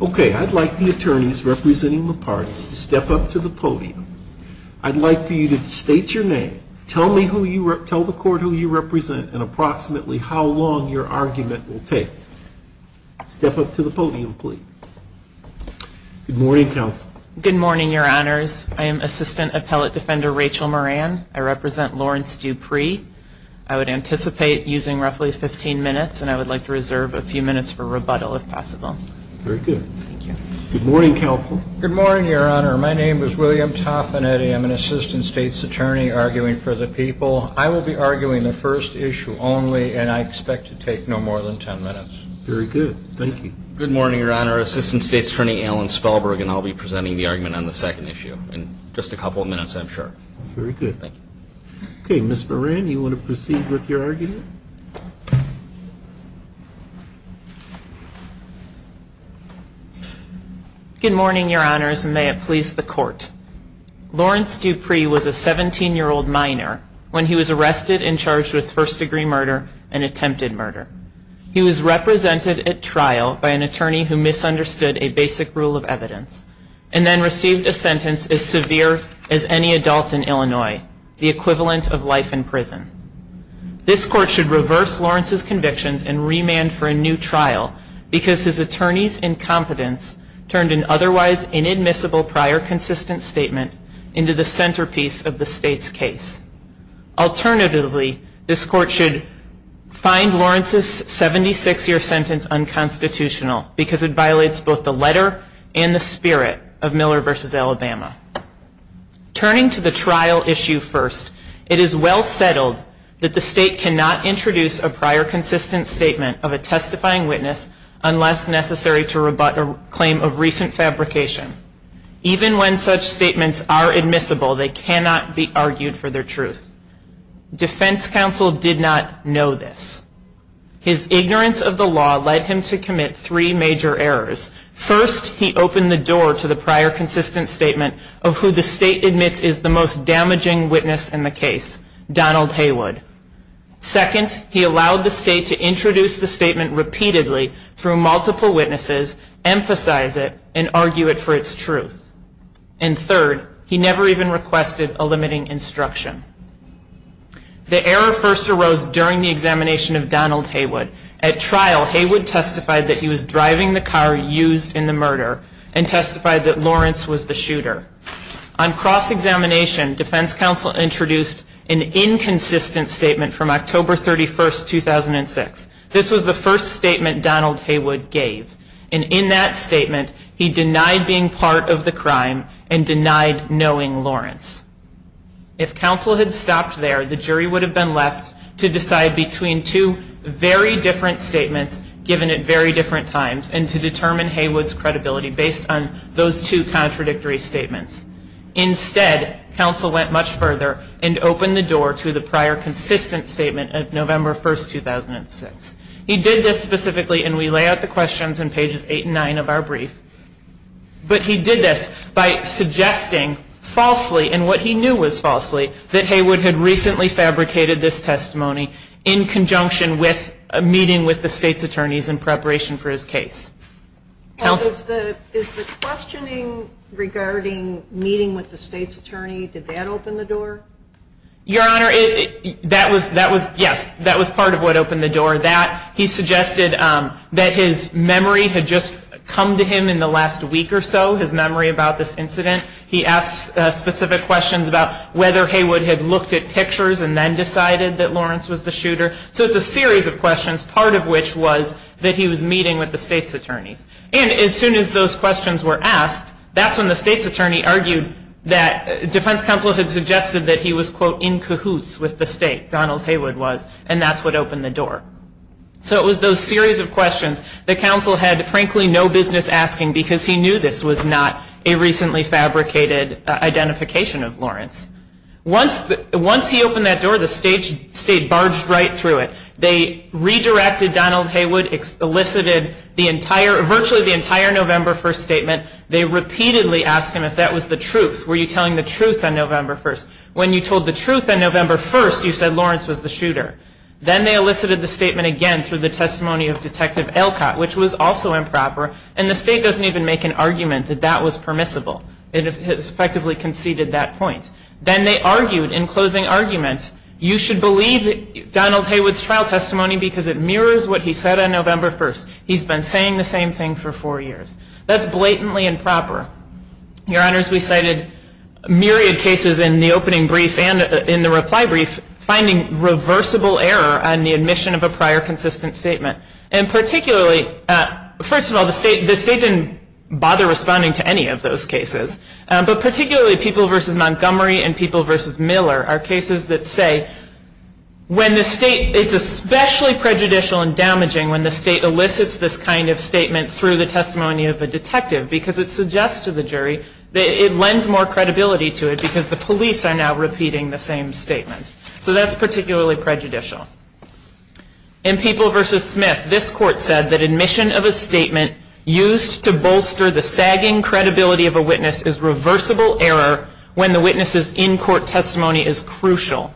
Okay, I'd like the attorneys representing the parties to step up to the podium. I'd like for you to state your name, tell the court who you represent, and approximately how long your argument will take. Step up to the podium, please. Good morning, counsel. Good morning, your honors. I am Assistant Appellate Defender Rachel Moran. I represent Lawrence Dupree. I would anticipate using roughly 15 minutes, and I would like to reserve a few minutes for rebuttal, if possible. Very good. Thank you. Good morning, counsel. Good morning, your honor. My name is William Toffinetti. I'm an Assistant State's Attorney arguing for the people. I will be arguing the first issue only, and I expect to take no more than 10 minutes. Very good. Thank you. Good morning, your honor. Assistant State's Attorney Alan Stahlberg, and I'll be presenting the argument on the second issue in just a couple of minutes, I'm sure. Very good. Thank you. Okay, Ms. Moran, you want to proceed with your argument? Good morning, your honors, and may it please the court. Lawrence Dupree was a 17-year-old minor when he was arrested and charged with first-degree murder and attempted murder. He was represented at trial by an attorney who misunderstood a basic rule of evidence, and then received a sentence as severe as any adult in Illinois, the equivalent of life in prison. This court should reverse Lawrence's convictions and remand for a new trial because his attorney's incompetence turned an otherwise inadmissible prior consistent statement into the centerpiece of the state's case. Alternatively, this court should find Lawrence's 76-year sentence unconstitutional because it violates both the letter and the spirit of Miller v. Alabama. Turning to the trial issue first, it is well settled that the state cannot introduce a prior consistent statement of a testifying witness unless necessary to rebut a claim of recent fabrication. Even when such statements are admissible, they cannot be argued for their truth. Defense counsel did not know this. His ignorance of the law led him to commit three major errors. First, he opened the door to the prior consistent statement of who the state admits is the most damaging witness in the case, Donald Haywood. Second, he allowed the state to introduce the statement repeatedly through multiple witnesses, emphasize it, and argue it for its truth. And third, he never even requested a limiting instruction. The error first arose during the examination of Donald Haywood. At trial, Haywood testified that he was driving the car used in the murder and testified that Lawrence was the shooter. On cross-examination, defense counsel introduced an inconsistent statement from October 31, 2006. This was the first statement Donald Haywood gave, and in that statement, he denied being part of the crime and denied knowing Lawrence. If counsel had stopped there, the jury would have been left to decide between two very different statements given at very different times and to determine Haywood's credibility based on those two contradictory statements. Instead, counsel went much further and opened the door to the prior consistent statement of November 1, 2006. He did this specifically, and we lay out the questions in pages 8 and 9 of our brief. But he did this by suggesting falsely, and what he knew was falsely, that Haywood had recently fabricated this testimony in conjunction with a meeting with the state's attorneys in preparation for his case. Counsel? Is the questioning regarding meeting with the state's attorney, did that open the door? Your Honor, that was, yes, that was part of what opened the door. For that, he suggested that his memory had just come to him in the last week or so, his memory about this incident. He asked specific questions about whether Haywood had looked at pictures and then decided that Lawrence was the shooter. So it's a series of questions, part of which was that he was meeting with the state's attorneys. And as soon as those questions were asked, that's when the state's attorney argued that defense counsel had suggested that he was, quote, in cahoots with the state, Donald Haywood was, and that's what opened the door. So it was those series of questions that counsel had, frankly, no business asking, because he knew this was not a recently fabricated identification of Lawrence. Once he opened that door, the state barged right through it. They redirected Donald Haywood, elicited virtually the entire November 1 statement. They repeatedly asked him if that was the truth. Were you telling the truth on November 1? When you told the truth on November 1, you said Lawrence was the shooter. Then they elicited the statement again through the testimony of Detective Elcott, which was also improper, and the state doesn't even make an argument that that was permissible. It has effectively conceded that point. Then they argued in closing argument, you should believe Donald Haywood's trial testimony because it mirrors what he said on November 1. He's been saying the same thing for four years. That's blatantly improper. Your Honors, we cited myriad cases in the opening brief and in the reply brief finding reversible error on the admission of a prior consistent statement. And particularly, first of all, the state didn't bother responding to any of those cases, but particularly people versus Montgomery and people versus Miller are cases that say when the state, it's especially prejudicial and damaging when the state elicits this kind of statement through the testimony of a detective because it suggests to the jury that it lends more credibility to it because the police are now repeating the same statement. So that's particularly prejudicial. In people versus Smith, this court said that admission of a statement used to bolster the sagging credibility of a witness is reversible error when the witness's in-court testimony is crucial.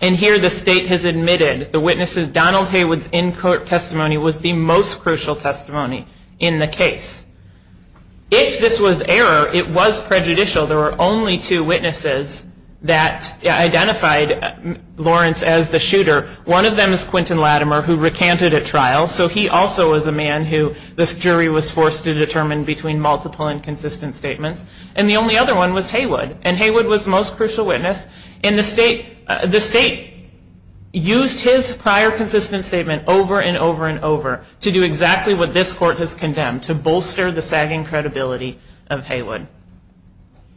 And here the state has admitted the witness's, Donald Haywood's in-court testimony was the most crucial testimony in the case. If this was error, it was prejudicial. There were only two witnesses that identified Lawrence as the shooter. One of them is Quentin Latimer who recanted at trial. So he also was a man who this jury was forced to determine between multiple inconsistent statements. And the only other one was Haywood. And Haywood was the most crucial witness. And the state used his prior consistent statement over and over and over to do exactly what this court has condemned, to bolster the sagging credibility of Haywood.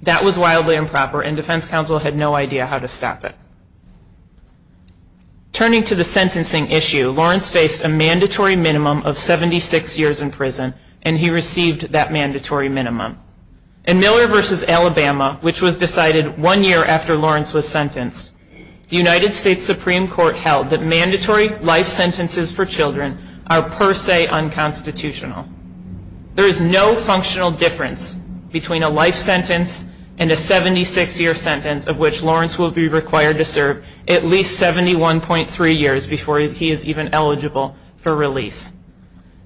That was wildly improper and defense counsel had no idea how to stop it. Turning to the sentencing issue, Lawrence faced a mandatory minimum of 76 years in prison and he received that mandatory minimum. In Miller v. Alabama, which was decided one year after Lawrence was sentenced, the United States Supreme Court held that mandatory life sentences for children are per se unconstitutional. There is no functional difference between a life sentence and a 76-year sentence of which Lawrence will be required to serve at least 71.3 years before he is even eligible for release.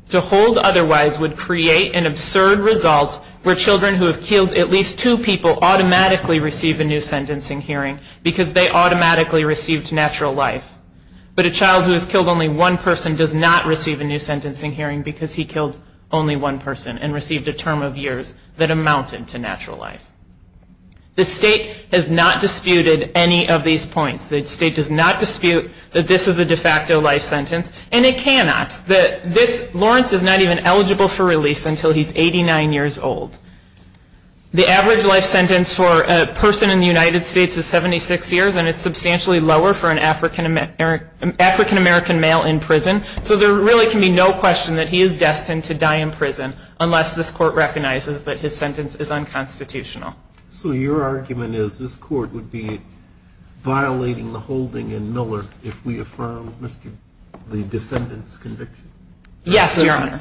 To hold otherwise would create an absurd result where children who have killed at least two people automatically receive a new sentencing hearing because they automatically received natural life. But a child who has killed only one person does not receive a new sentencing hearing because he killed only one person and received a term of years that amounted to natural life. The state has not disputed any of these points. The state does not dispute that this is a de facto life sentence. And it cannot. Lawrence is not even eligible for release until he's 89 years old. The average life sentence for a person in the United States is 76 years and it's substantially lower for an African-American male in prison. So there really can be no question that he is destined to die in prison unless this Court recognizes that his sentence is unconstitutional. So your argument is this Court would be violating the holding in Miller if we affirm the defendant's conviction? Yes, Your Honor.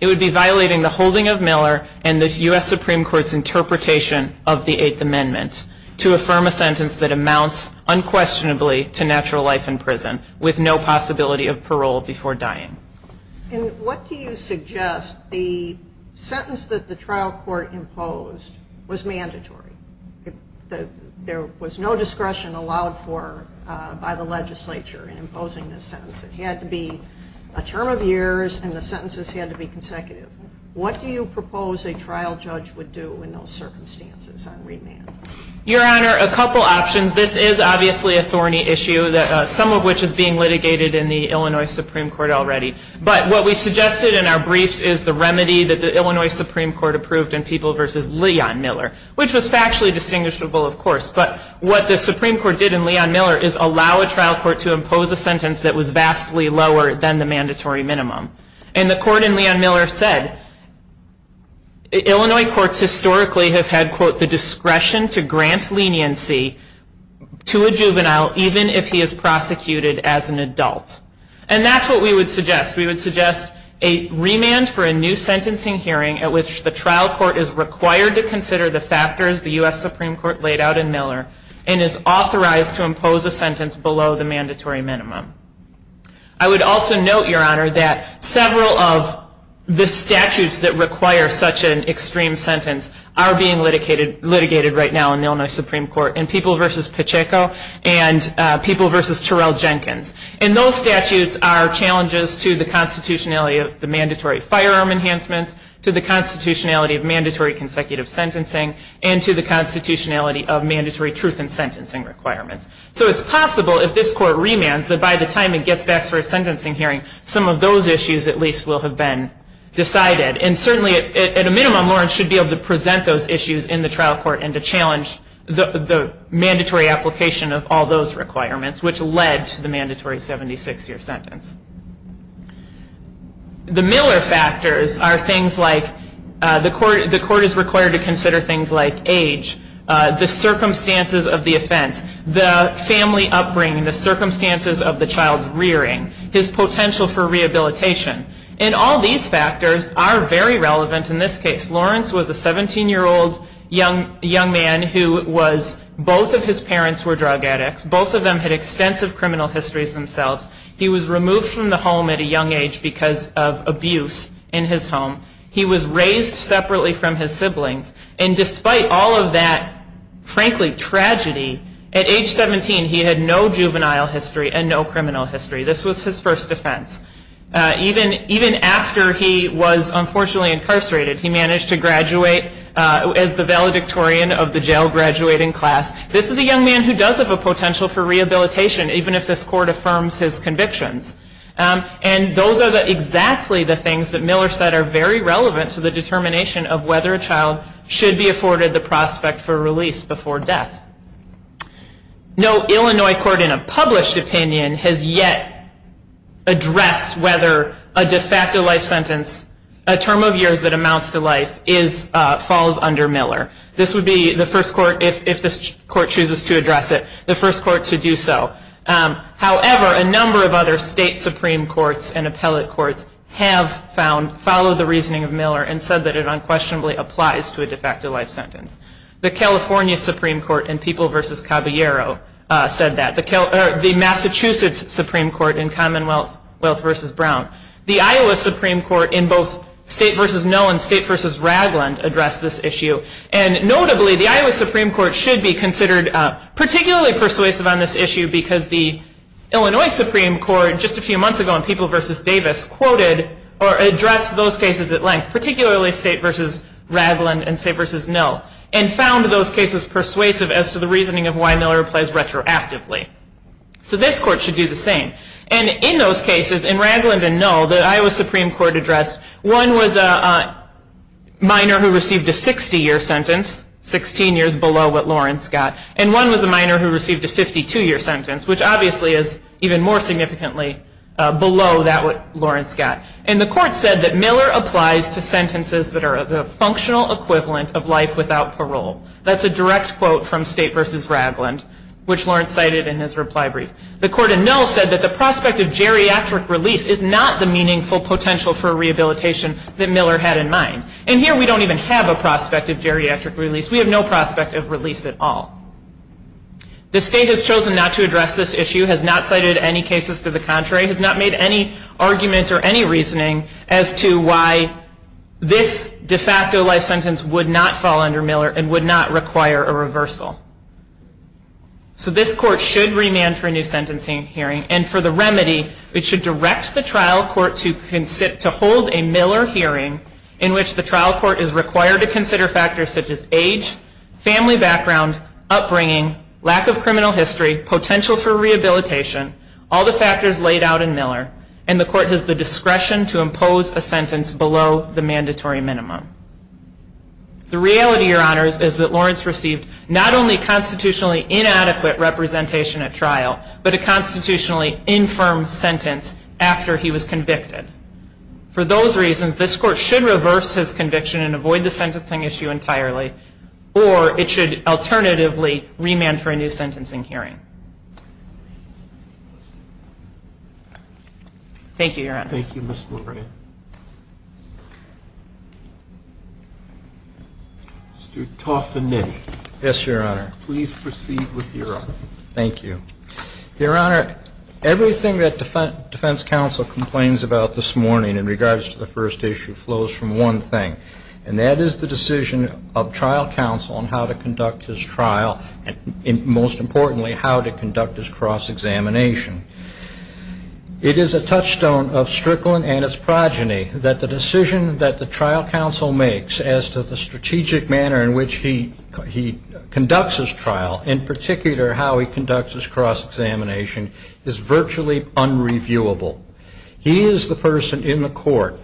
It would be violating the holding of Miller and this U.S. Supreme Court's interpretation of the Eighth Amendment to affirm a sentence that amounts unquestionably to natural life in prison with no possibility of parole before dying. And what do you suggest? The sentence that the trial court imposed was mandatory. There was no discretion allowed for by the legislature in imposing this sentence. It had to be a term of years and the sentences had to be consecutive. What do you propose a trial judge would do in those circumstances on remand? Your Honor, a couple options. This is obviously a thorny issue, some of which is being litigated in the Illinois Supreme Court already. But what we suggested in our briefs is the remedy that the Illinois Supreme Court approved in People v. Leon Miller, which was factually distinguishable, of course. But what the Supreme Court did in Leon Miller is allow a trial court to impose a sentence that was vastly lower than the mandatory minimum. And the court in Leon Miller said, Illinois courts historically have had, quote, to grant leniency to a juvenile even if he is prosecuted as an adult. And that's what we would suggest. We would suggest a remand for a new sentencing hearing at which the trial court is required to consider the factors the U.S. Supreme Court laid out in Miller and is authorized to impose a sentence below the mandatory minimum. I would also note, Your Honor, that several of the statutes that require such an extreme sentence are being litigated right now in the Illinois Supreme Court in People v. Pacheco and People v. Terrell Jenkins. And those statutes are challenges to the constitutionality of the mandatory firearm enhancements, to the constitutionality of mandatory consecutive sentencing, and to the constitutionality of mandatory truth in sentencing requirements. So it's possible if this court remands that by the time it gets back to a sentencing hearing, some of those issues at least will have been decided. And certainly at a minimum, Lawrence should be able to present those issues in the trial court and to challenge the mandatory application of all those requirements which led to the mandatory 76-year sentence. The Miller factors are things like the court is required to consider things like age, the circumstances of the offense, the family upbringing, the circumstances of the child's rearing, his potential for rehabilitation. And all these factors are very relevant in this case. Lawrence was a 17-year-old young man who was, both of his parents were drug addicts. Both of them had extensive criminal histories themselves. He was removed from the home at a young age because of abuse in his home. He was raised separately from his siblings. And despite all of that, frankly, tragedy, at age 17 he had no juvenile history and no criminal history. This was his first offense. Even after he was unfortunately incarcerated, he managed to graduate as the valedictorian of the jail graduating class. This is a young man who does have a potential for rehabilitation even if this court affirms his convictions. And those are exactly the things that Miller said are very relevant to the determination of whether a child should be afforded the prospect for release before death. No Illinois court in a published opinion has yet addressed whether a de facto life sentence, a term of years that amounts to life, falls under Miller. This would be the first court, if this court chooses to address it, the first court to do so. However, a number of other state supreme courts and appellate courts have followed the reasoning of Miller and said that it unquestionably applies to a de facto life sentence. The California Supreme Court in People v. Caballero said that. The Massachusetts Supreme Court in Commonwealth v. Brown. The Iowa Supreme Court in both State v. Null and State v. Ragland addressed this issue. And notably, the Iowa Supreme Court should be considered particularly persuasive on this issue because the Illinois Supreme Court just a few months ago in People v. Davis quoted or addressed those cases at length, particularly State v. Ragland and State v. Null. And found those cases persuasive as to the reasoning of why Miller applies retroactively. So this court should do the same. And in those cases, in Ragland and Null, the Iowa Supreme Court addressed one was a minor who received a 60-year sentence, 16 years below what Lawrence got, and one was a minor who received a 52-year sentence, which obviously is even more significantly below that what Lawrence got. And the court said that Miller applies to sentences that are the That's a direct quote from State v. Ragland, which Lawrence cited in his reply brief. The court in Null said that the prospect of geriatric release is not the meaningful potential for rehabilitation that Miller had in mind. And here we don't even have a prospect of geriatric release. We have no prospect of release at all. The state has chosen not to address this issue, has not cited any cases to the contrary, has not made any argument or any reasoning as to why this de facto life sentence would not fall under Miller and would not require a reversal. So this court should remand for a new sentencing hearing. And for the remedy, it should direct the trial court to hold a Miller hearing in which the trial court is required to consider factors such as age, family background, upbringing, lack of criminal history, potential for rehabilitation, all the factors laid out in Miller, and the court has the The reality, Your Honors, is that Lawrence received not only constitutionally inadequate representation at trial, but a constitutionally infirm sentence after he was convicted. For those reasons, this court should reverse his conviction and avoid the sentencing issue entirely, or it should alternatively remand for a new sentencing hearing. Thank you, Your Honors. Thank you, Mr. Moran. Mr. Taufanidi. Yes, Your Honor. Please proceed with your argument. Thank you. Your Honor, everything that defense counsel complains about this morning in regards to the first issue flows from one thing, and that is the decision of trial counsel on how to conduct his trial and, most importantly, how to conduct his cross-examination. It is a touchstone of Strickland and his progeny that the decision that the trial counsel makes as to the strategic manner in which he conducts his trial, in particular how he conducts his cross-examination, is virtually unreviewable. He is the person in the court.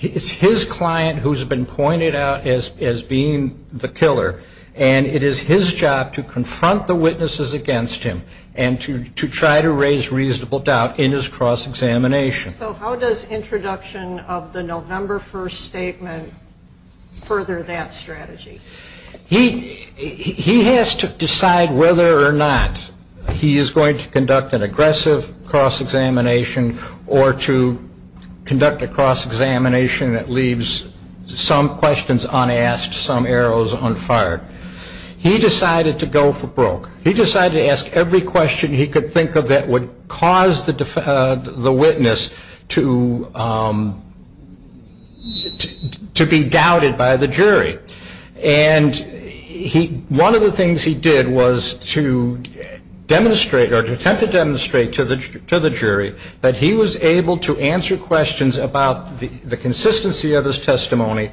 It's his client who's been pointed out as being the killer, and it is his job to confront the witnesses against him and to try to raise reasonable doubt in his cross-examination. So how does introduction of the November 1st statement further that strategy? He has to decide whether or not he is going to conduct an aggressive cross-examination or to conduct a cross-examination that leaves some questions unasked, some arrows unfired. He decided to go for broke. He decided to ask every question he could think of that would cause the witness to be doubted by the jury. And one of the things he did was to demonstrate or to attempt to demonstrate to the jury that he was able to answer questions about the consistency of his testimony.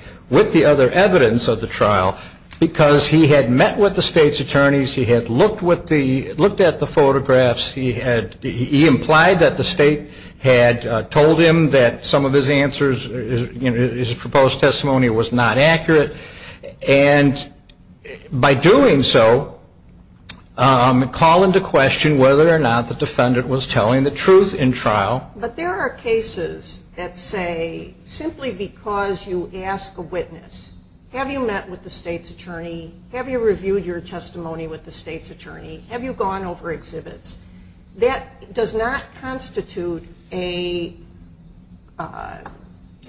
Because he had met with the state's attorneys, he had looked at the photographs, he implied that the state had told him that some of his answers, his proposed testimony was not accurate. And by doing so, call into question whether or not the defendant was telling the truth in trial. But there are cases that say simply because you ask a witness, have you met with the state's attorney? Have you reviewed your testimony with the state's attorney? Have you gone over exhibits? That does not constitute an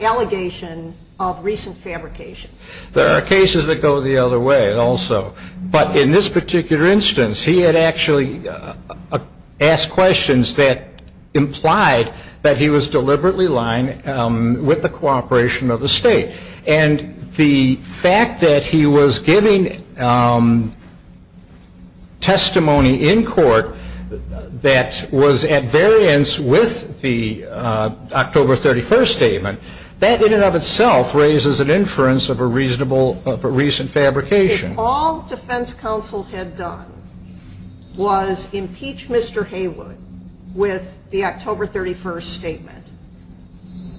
allegation of recent fabrication. There are cases that go the other way also. But in this particular instance, he had actually asked questions that implied that he was deliberately lying with the cooperation of the state. And the fact that he was giving testimony in court that was at variance with the October 31st statement, that in and of itself raises an inference of a reasonable reason fabrication. If all defense counsel had done was impeach Mr. Haywood with the October 31st statement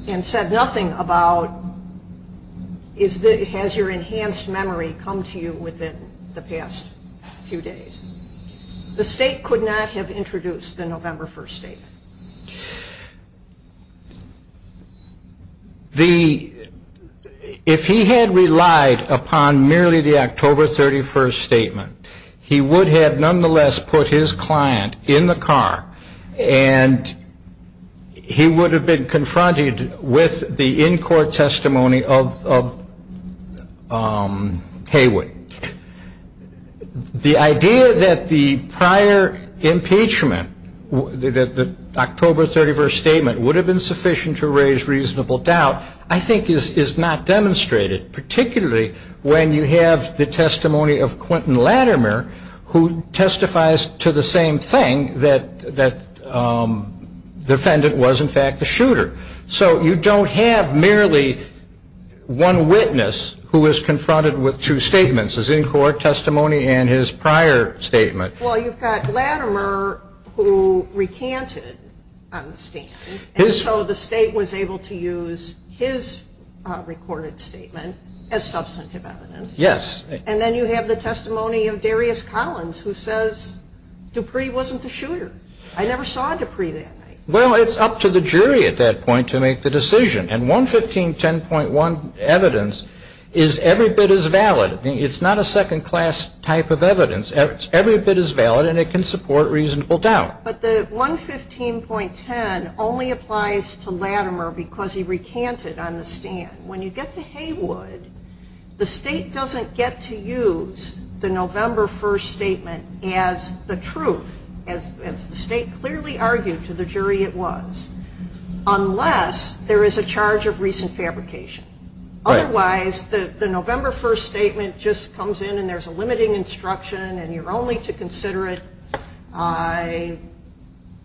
and said nothing about has your enhanced memory come to you within the past few days, the state could not have introduced the November 1st statement. If he had relied upon merely the October 31st statement, he would have nonetheless put his client in the car and he would have been confronted with the in-court testimony of Haywood. The idea that the prior impeachment, that the October 31st statement would have been sufficient to raise reasonable doubt, I think is not demonstrated, particularly when you have the testimony of Quentin Latimer, who testifies to the same thing, that the defendant was in fact the shooter. So you don't have merely one witness who is confronted with two statements, his in-court testimony and his prior statement. Well, you've got Latimer who recanted on the stand and so the state was able to use his recorded statement as substantive evidence. Yes. And then you have the testimony of Darius Collins who says Dupree wasn't the shooter. I never saw Dupree that night. Well, it's up to the jury at that point to make the decision. And 115.10.1 evidence is every bit as valid. It's not a second-class type of evidence. Every bit is valid and it can support reasonable doubt. But the 115.10 only applies to Latimer because he recanted on the stand. When you get to Haywood, the state doesn't get to use the November 1st statement as the truth, as the state clearly argued to the jury it was, unless there is a charge of recent fabrication. Otherwise, the November 1st statement just comes in and there's a limiting instruction and you're only to consider it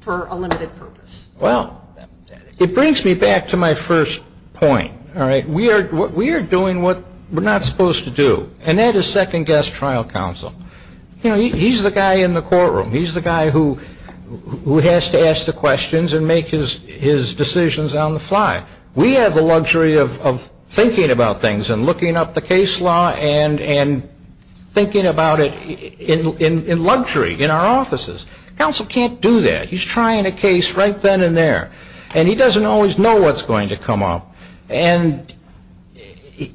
for a limited purpose. Well, it brings me back to my first point. All right? We are doing what we're not supposed to do. And that is second-guess trial counsel. You know, he's the guy in the courtroom. He's the guy who has to ask the questions and make his decisions on the fly. We have the luxury of thinking about things and looking up the case law and thinking about it in luxury in our offices. Counsel can't do that. He's trying a case right then and there. And he doesn't always know what's going to come up. And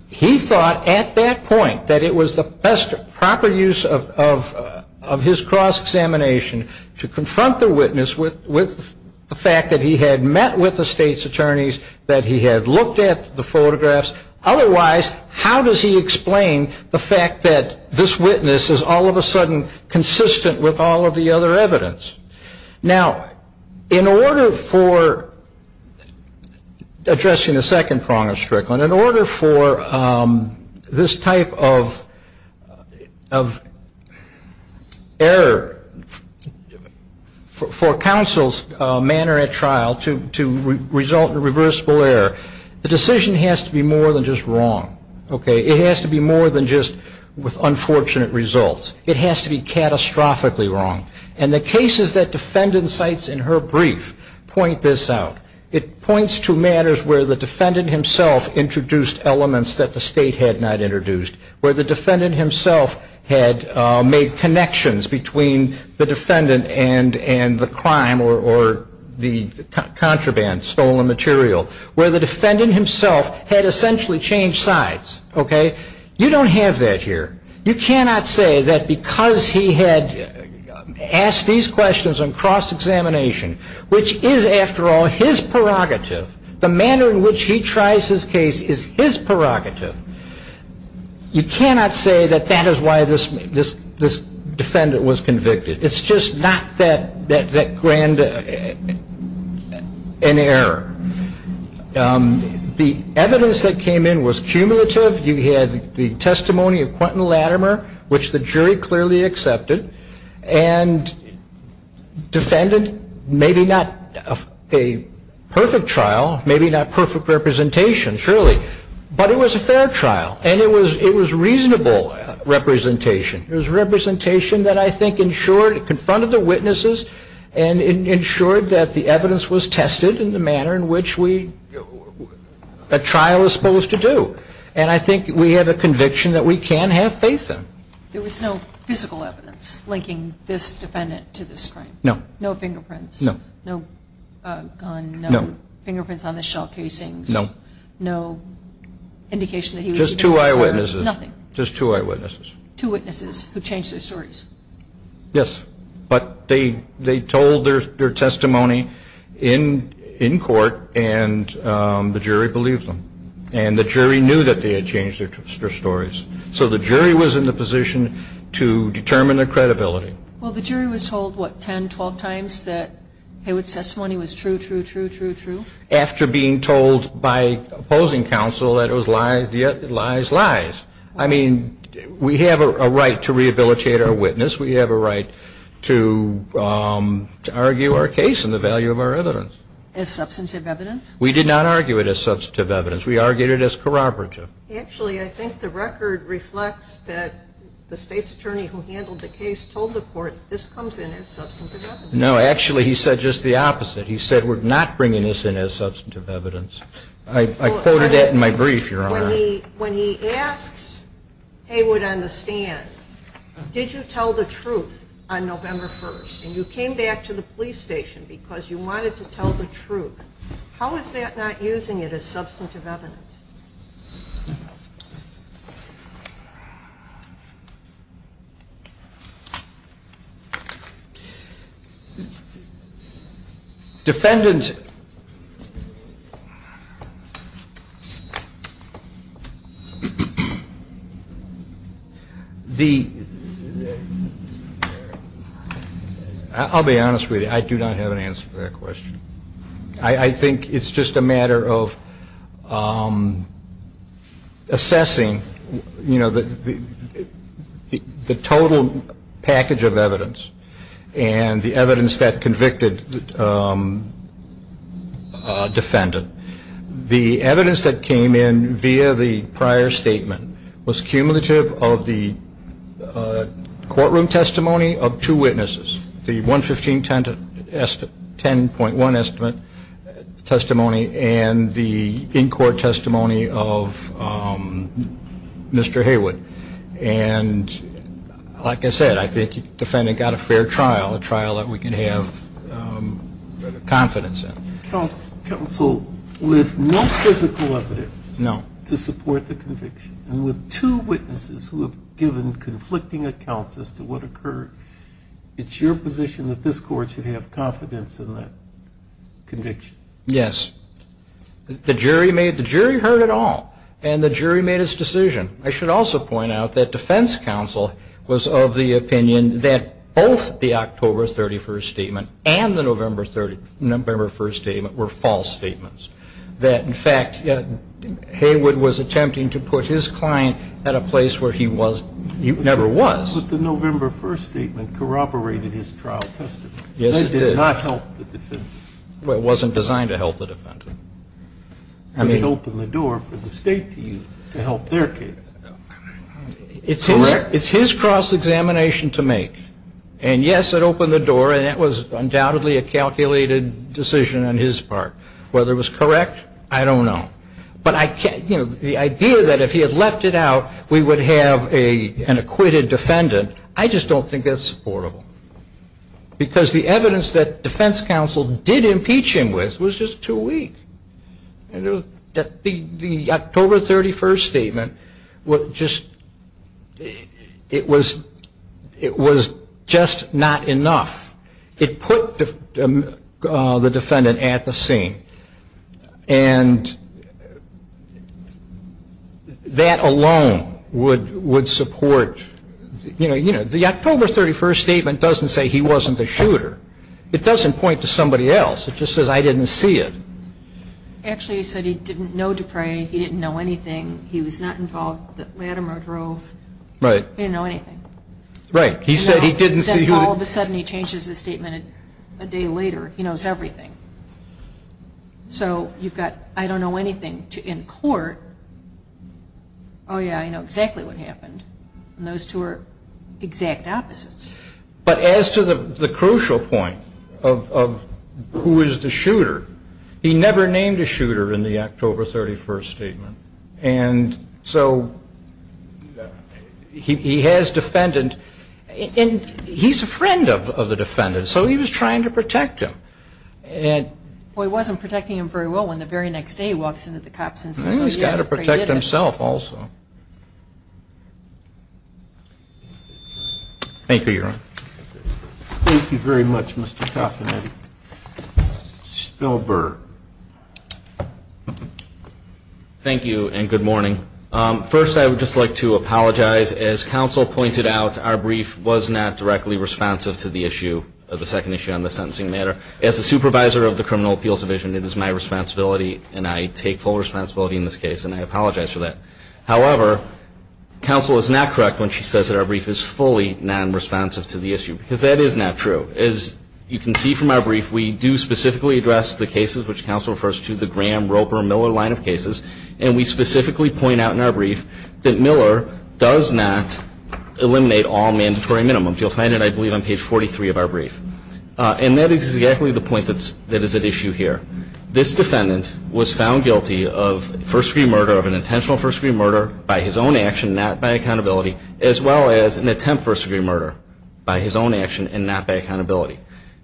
he thought at that point that it was the best proper use of his cross-examination to confront the witness with the fact that he had met with the state's attorneys, that he had looked at the photographs. Otherwise, how does he explain the fact that this witness is all of a sudden consistent with all of the other evidence? Now, in order for addressing the second prong of Strickland, in order for this type of error for counsel's manner at trial to result in reversible error, the decision has to be more than just wrong. Okay? It has to be more than just with unfortunate results. It has to be catastrophically wrong. And the cases that defendant cites in her brief point this out. It points to matters where the defendant himself introduced elements that the state had not introduced, where the defendant himself had made connections between the defendant and the crime or the contraband, stolen material, where the defendant himself had essentially changed sides. Okay? You don't have that here. You cannot say that because he had asked these questions on cross-examination, which is, after all, his prerogative. The manner in which he tries his case is his prerogative. You cannot say that that is why this defendant was convicted. It's just not that grand an error. The evidence that came in was cumulative. You had the testimony of Quentin Latimer, which the jury clearly accepted, and defendant, maybe not a perfect trial, maybe not perfect representation, surely, but it was a fair trial, and it was reasonable representation. It was representation that I think ensured, confronted the witnesses and ensured that the evidence was tested in the manner in which a trial is supposed to do. And I think we have a conviction that we can have faith in. There was no physical evidence linking this defendant to this crime? No. No fingerprints? No. No gun? No. Fingerprints on the shell casings? No. No indication that he was even there? Just two eyewitnesses. Nothing? Just two eyewitnesses. Two witnesses who changed their stories? Yes, but they told their testimony in court, and the jury believed them. And the jury knew that they had changed their stories. So the jury was in the position to determine their credibility. Well, the jury was told, what, 10, 12 times that Haywood's testimony was true, true, true, true, true? After being told by opposing counsel that it was lies, lies, lies. I mean, we have a right to rehabilitate our witness. We have a right to argue our case and the value of our evidence. As substantive evidence? We did not argue it as substantive evidence. We argued it as corroborative. Actually, I think the record reflects that the state's attorney who handled the case told the court, this comes in as substantive evidence. No, actually, he said just the opposite. He said we're not bringing this in as substantive evidence. I quoted that in my brief, Your Honor. When he asks Haywood on the stand, did you tell the truth on November 1st, and you came back to the police station because you wanted to tell the truth, how is that not using it as substantive evidence? Defendant, the, I'll be honest with you. I do not have an answer for that question. I think it's just a matter of assessing, you know, the total package of evidence and the evidence that convicted defendant. The evidence that came in via the prior statement was cumulative of the courtroom testimony of two witnesses, the 11510.1 estimate testimony and the in-court testimony of Mr. Haywood. And like I said, I think the defendant got a fair trial, a trial that we can have confidence in. Counsel, with no physical evidence to support the conviction, and with two witnesses who have given conflicting accounts as to what occurred, it's your position that this court should have confidence in that conviction? Yes. The jury heard it all, and the jury made its decision. I should also point out that defense counsel was of the opinion that both the October 31st statement and the November 1st statement were false statements, that, in fact, Haywood was attempting to put his client at a place where he never was. I suppose that the November 1st statement corroborated his trial testimony. Yes, it did. That did not help the defendant. Well, it wasn't designed to help the defendant. I mean, it opened the door for the State to use to help their case. It's his cross-examination to make. And, yes, it opened the door, and it was undoubtedly a calculated decision on his part. Whether it was correct, I don't know. But the idea that if he had left it out, we would have an acquitted defendant, I just don't think that's supportable, because the evidence that defense counsel did impeach him with was just too weak. The October 31st statement, it was just not enough. It put the defendant at the scene. And that alone would support, you know, the October 31st statement doesn't say he wasn't the shooter. It doesn't point to somebody else. It just says, I didn't see it. Actually, he said he didn't know Dupre. He didn't know anything. He was not involved at Lattimer Grove. Right. He didn't know anything. Right. He said he didn't see who the- So you've got I don't know anything in court. Oh, yeah, I know exactly what happened. And those two are exact opposites. But as to the crucial point of who is the shooter, he never named a shooter in the October 31st statement. And so he has defendant. And he's a friend of the defendant, so he was trying to protect him. Well, he wasn't protecting him very well when the very next day he walks into the cops' office. He's got to protect himself also. Thank you, Your Honor. Thank you very much, Mr. Koffman. Mr. Spielberg. Thank you, and good morning. First, I would just like to apologize. As counsel pointed out, our brief was not directly responsive to the issue, the second issue on the sentencing matter. As the supervisor of the Criminal Appeals Division, it is my responsibility, and I take full responsibility in this case, and I apologize for that. However, counsel is not correct when she says that our brief is fully non-responsive to the issue, because that is not true. As you can see from our brief, we do specifically address the cases, which counsel refers to, the Graham, Roper, Miller line of cases, and we specifically point out in our brief that Miller does not eliminate all mandatory minimums. You'll find it, I believe, on page 43 of our brief. And that is exactly the point that is at issue here. This defendant was found guilty of first-degree murder, of an intentional first-degree murder, by his own action, not by accountability, as well as an attempt first-degree murder, by his own action and not by accountability.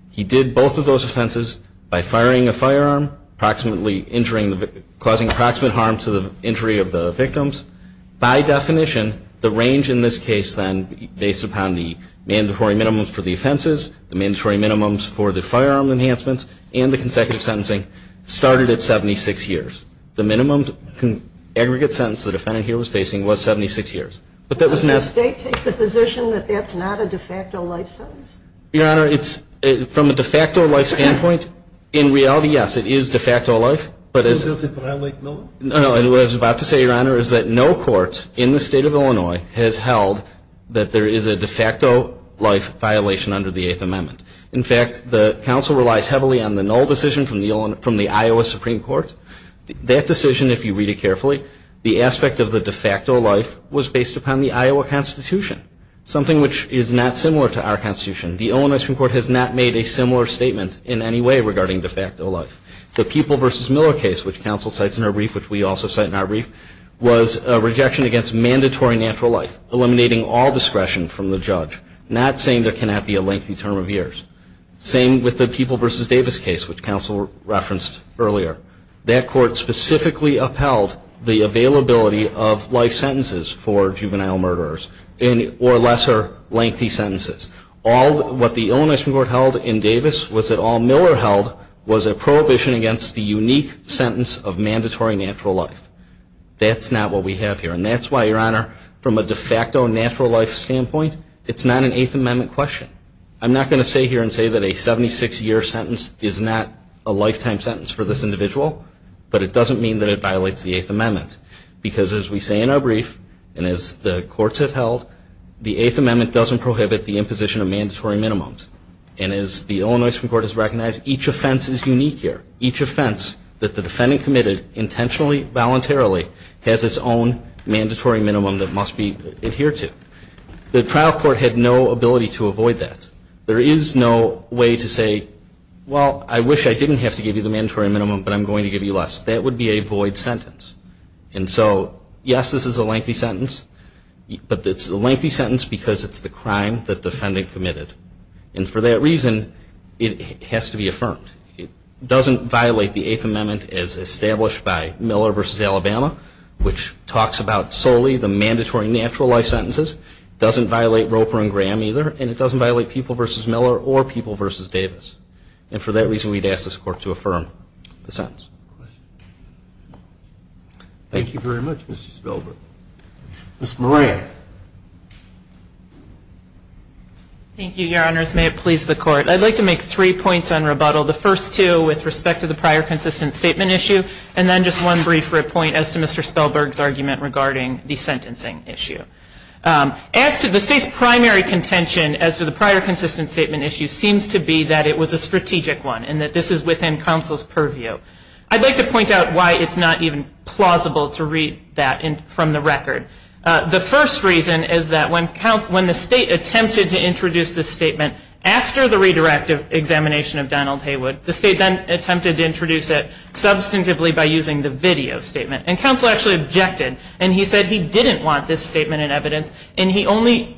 He did both of those offenses by firing a firearm, causing approximate harm to the injury of the victims. By definition, the range in this case, then, based upon the mandatory minimums for the offenses, the mandatory minimums for the firearm enhancements, and the consecutive sentencing, started at 76 years. The minimum aggregate sentence the defendant here was facing was 76 years. But that was not... Does the State take the position that that's not a de facto life sentence? Your Honor, it's, from a de facto life standpoint, in reality, yes, it is de facto life. But as... So does it violate Miller? No, no, and what I was about to say, Your Honor, is that no court in the State of Illinois has held that there is a de facto life violation under the Eighth Amendment. In fact, the counsel relies heavily on the null decision from the Iowa Supreme Court. That decision, if you read it carefully, the aspect of the de facto life was based upon the Iowa Constitution, something which is not similar to our Constitution. The Illinois Supreme Court has not made a similar statement in any way regarding de facto life. The People v. Miller case, which counsel cites in her brief, which we also cite in our brief, was a rejection against mandatory natural life, eliminating all discretion from the judge, not saying there cannot be a lengthy term of years. Same with the People v. Davis case, which counsel referenced earlier. That court specifically upheld the availability of life sentences for juvenile murderers or lesser lengthy sentences. All... What the Illinois Supreme Court held in Davis was that all Miller held was a prohibition against the unique sentence of mandatory natural life. That's not what we have here. And that's why, Your Honor, from a de facto natural life standpoint, it's not an Eighth Amendment question. I'm not going to stay here and say that a 76-year sentence is not a lifetime sentence for this individual, but it doesn't mean that it violates the Eighth Amendment. Because, as we say in our brief, and as the courts have held, the Eighth Amendment doesn't prohibit the imposition of mandatory minimums. And as the Illinois Supreme Court has recognized, each offense is unique here. Each offense that the defendant committed intentionally, voluntarily, has its own mandatory minimum that must be adhered to. The trial court had no ability to avoid that. There is no way to say, well, I wish I didn't have to give you the mandatory minimum, but I'm going to give you less. That would be a void sentence. And so, yes, this is a lengthy sentence, but it's a lengthy sentence because it's the crime that the defendant committed. And for that reason, it has to be affirmed. It doesn't violate the Eighth Amendment as established by Miller v. Alabama, which talks about solely the mandatory natural life sentences. It doesn't violate Roper and Graham either, and it doesn't violate Peeple v. Miller or Peeple v. Davis. And for that reason, we'd ask this Court to affirm the sentence. Thank you very much, Mr. Spielberg. Ms. Moran. Thank you, Your Honors. May it please the Court. I'd like to make three points on rebuttal. The first two with respect to the prior consistent statement issue, and then just one brief point as to Mr. Spielberg's argument regarding the sentencing issue. As to the State's primary contention as to the prior consistent statement issue seems to be that it was a strategic one and that this is within counsel's purview. I'd like to point out why it's not even plausible to read that from the record. The first reason is that when the State attempted to introduce this statement after the redirective examination of Donald Haywood, the State then attempted to introduce it substantively by using the video statement. And counsel actually objected, and he said he didn't want this statement in evidence. And the only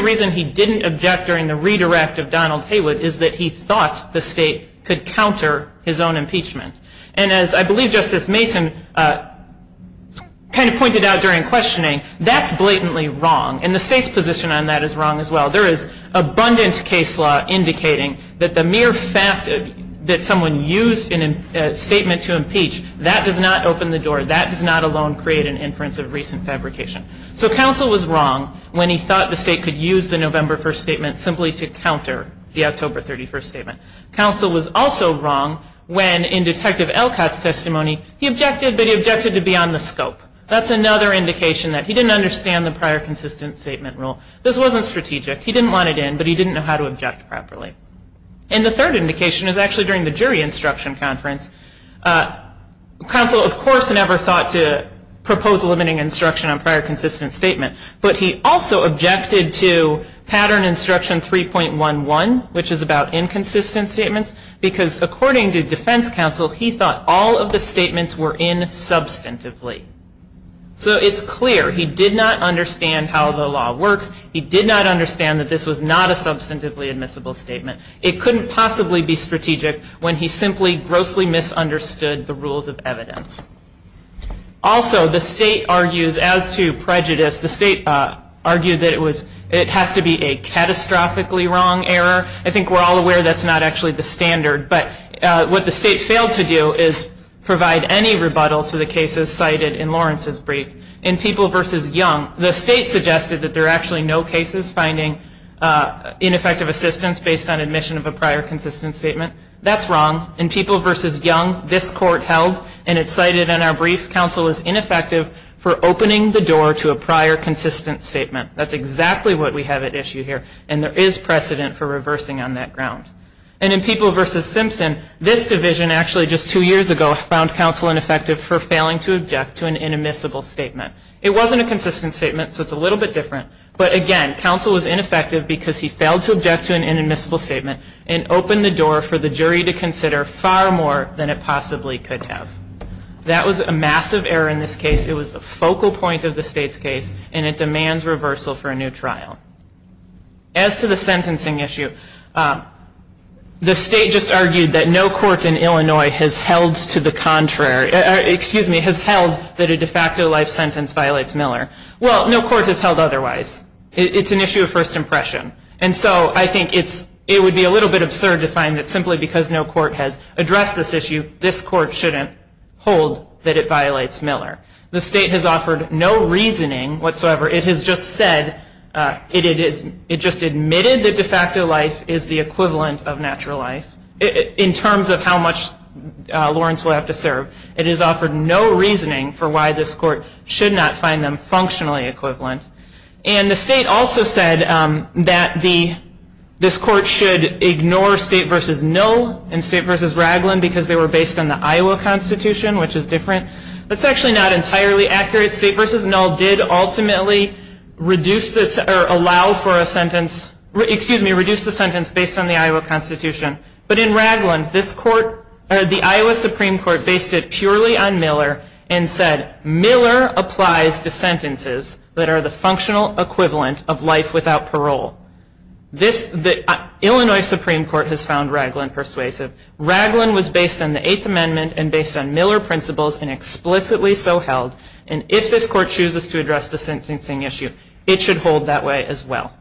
reason he didn't object during the redirect of Donald Haywood is that he thought the State could counter his own impeachment. And as I believe Justice Mason kind of pointed out during questioning, that's blatantly wrong, and the State's position on that is wrong as well. There is abundant case law indicating that the mere fact that someone used a statement to impeach, that does not open the door, that does not alone create an inference of recent fabrication. So counsel was wrong when he thought the State could use the November 1st statement simply to counter the October 31st statement. Counsel was also wrong when in Detective Elcott's testimony, he objected, but he objected to beyond the scope. That's another indication that he didn't understand the prior consistent statement rule. This wasn't strategic. He didn't want it in, but he didn't know how to object properly. And the third indication is actually during the jury instruction conference, counsel of course never thought to propose limiting instruction on prior consistent statement, but he also objected to pattern instruction 3.11, which is about inconsistent statements, because according to defense counsel, he thought all of the statements were in substantively. So it's clear he did not understand how the law works. He did not understand that this was not a substantively admissible statement. It couldn't possibly be strategic when he simply grossly misunderstood the rules of evidence. Also, the State argues as to prejudice. The State argued that it has to be a catastrophically wrong error. I think we're all aware that's not actually the standard. But what the State failed to do is provide any rebuttal to the cases cited in Lawrence's brief. In People v. Young, the State suggested that there are actually no cases finding ineffective assistance based on admission of a prior consistent statement. That's wrong. In People v. Young, this court held, and it's cited in our brief, counsel is ineffective for opening the door to a prior consistent statement. That's exactly what we have at issue here, and there is precedent for reversing on that ground. And in People v. Simpson, this division actually just two years ago found counsel ineffective for failing to object to an inadmissible statement. It wasn't a consistent statement, so it's a little bit different. But again, counsel was ineffective because he failed to object to an inadmissible statement and open the door for the jury to consider far more than it possibly could have. That was a massive error in this case. It was the focal point of the State's case, and it demands reversal for a new trial. As to the sentencing issue, the State just argued that no court in Illinois has held to the contrary, excuse me, has held that a de facto life sentence violates Miller. Well, no court has held otherwise. It's an issue of first impression. And so I think it would be a little bit absurd to find that simply because no court has addressed this issue, this court shouldn't hold that it violates Miller. The State has offered no reasoning whatsoever. It has just said, it just admitted that de facto life is the equivalent of natural life. In terms of how much Lawrence will have to serve, it has offered no reasoning for why this court should not find them functionally equivalent. And the State also said that this court should ignore State v. Null and State v. Ragland because they were based on the Iowa Constitution, which is different. That's actually not entirely accurate. State v. Null did ultimately reduce this or allow for a sentence, excuse me, reduce the sentence based on the Iowa Constitution. But in Ragland, this court, the Iowa Supreme Court based it purely on Miller and said, Miller applies to sentences that are the functional equivalent of life without parole. Illinois Supreme Court has found Ragland persuasive. Ragland was based on the Eighth Amendment and based on Miller principles and explicitly so held. And if this court chooses to address the sentencing issue, it should hold that way as well.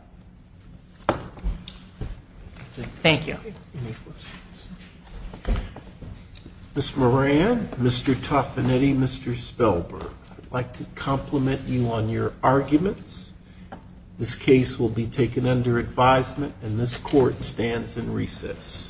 Thank you. Any questions? Ms. Moran, Mr. Toffinetti, Mr. Spelberg, I'd like to compliment you on your arguments. This case will be taken under advisement and this court stands in recess.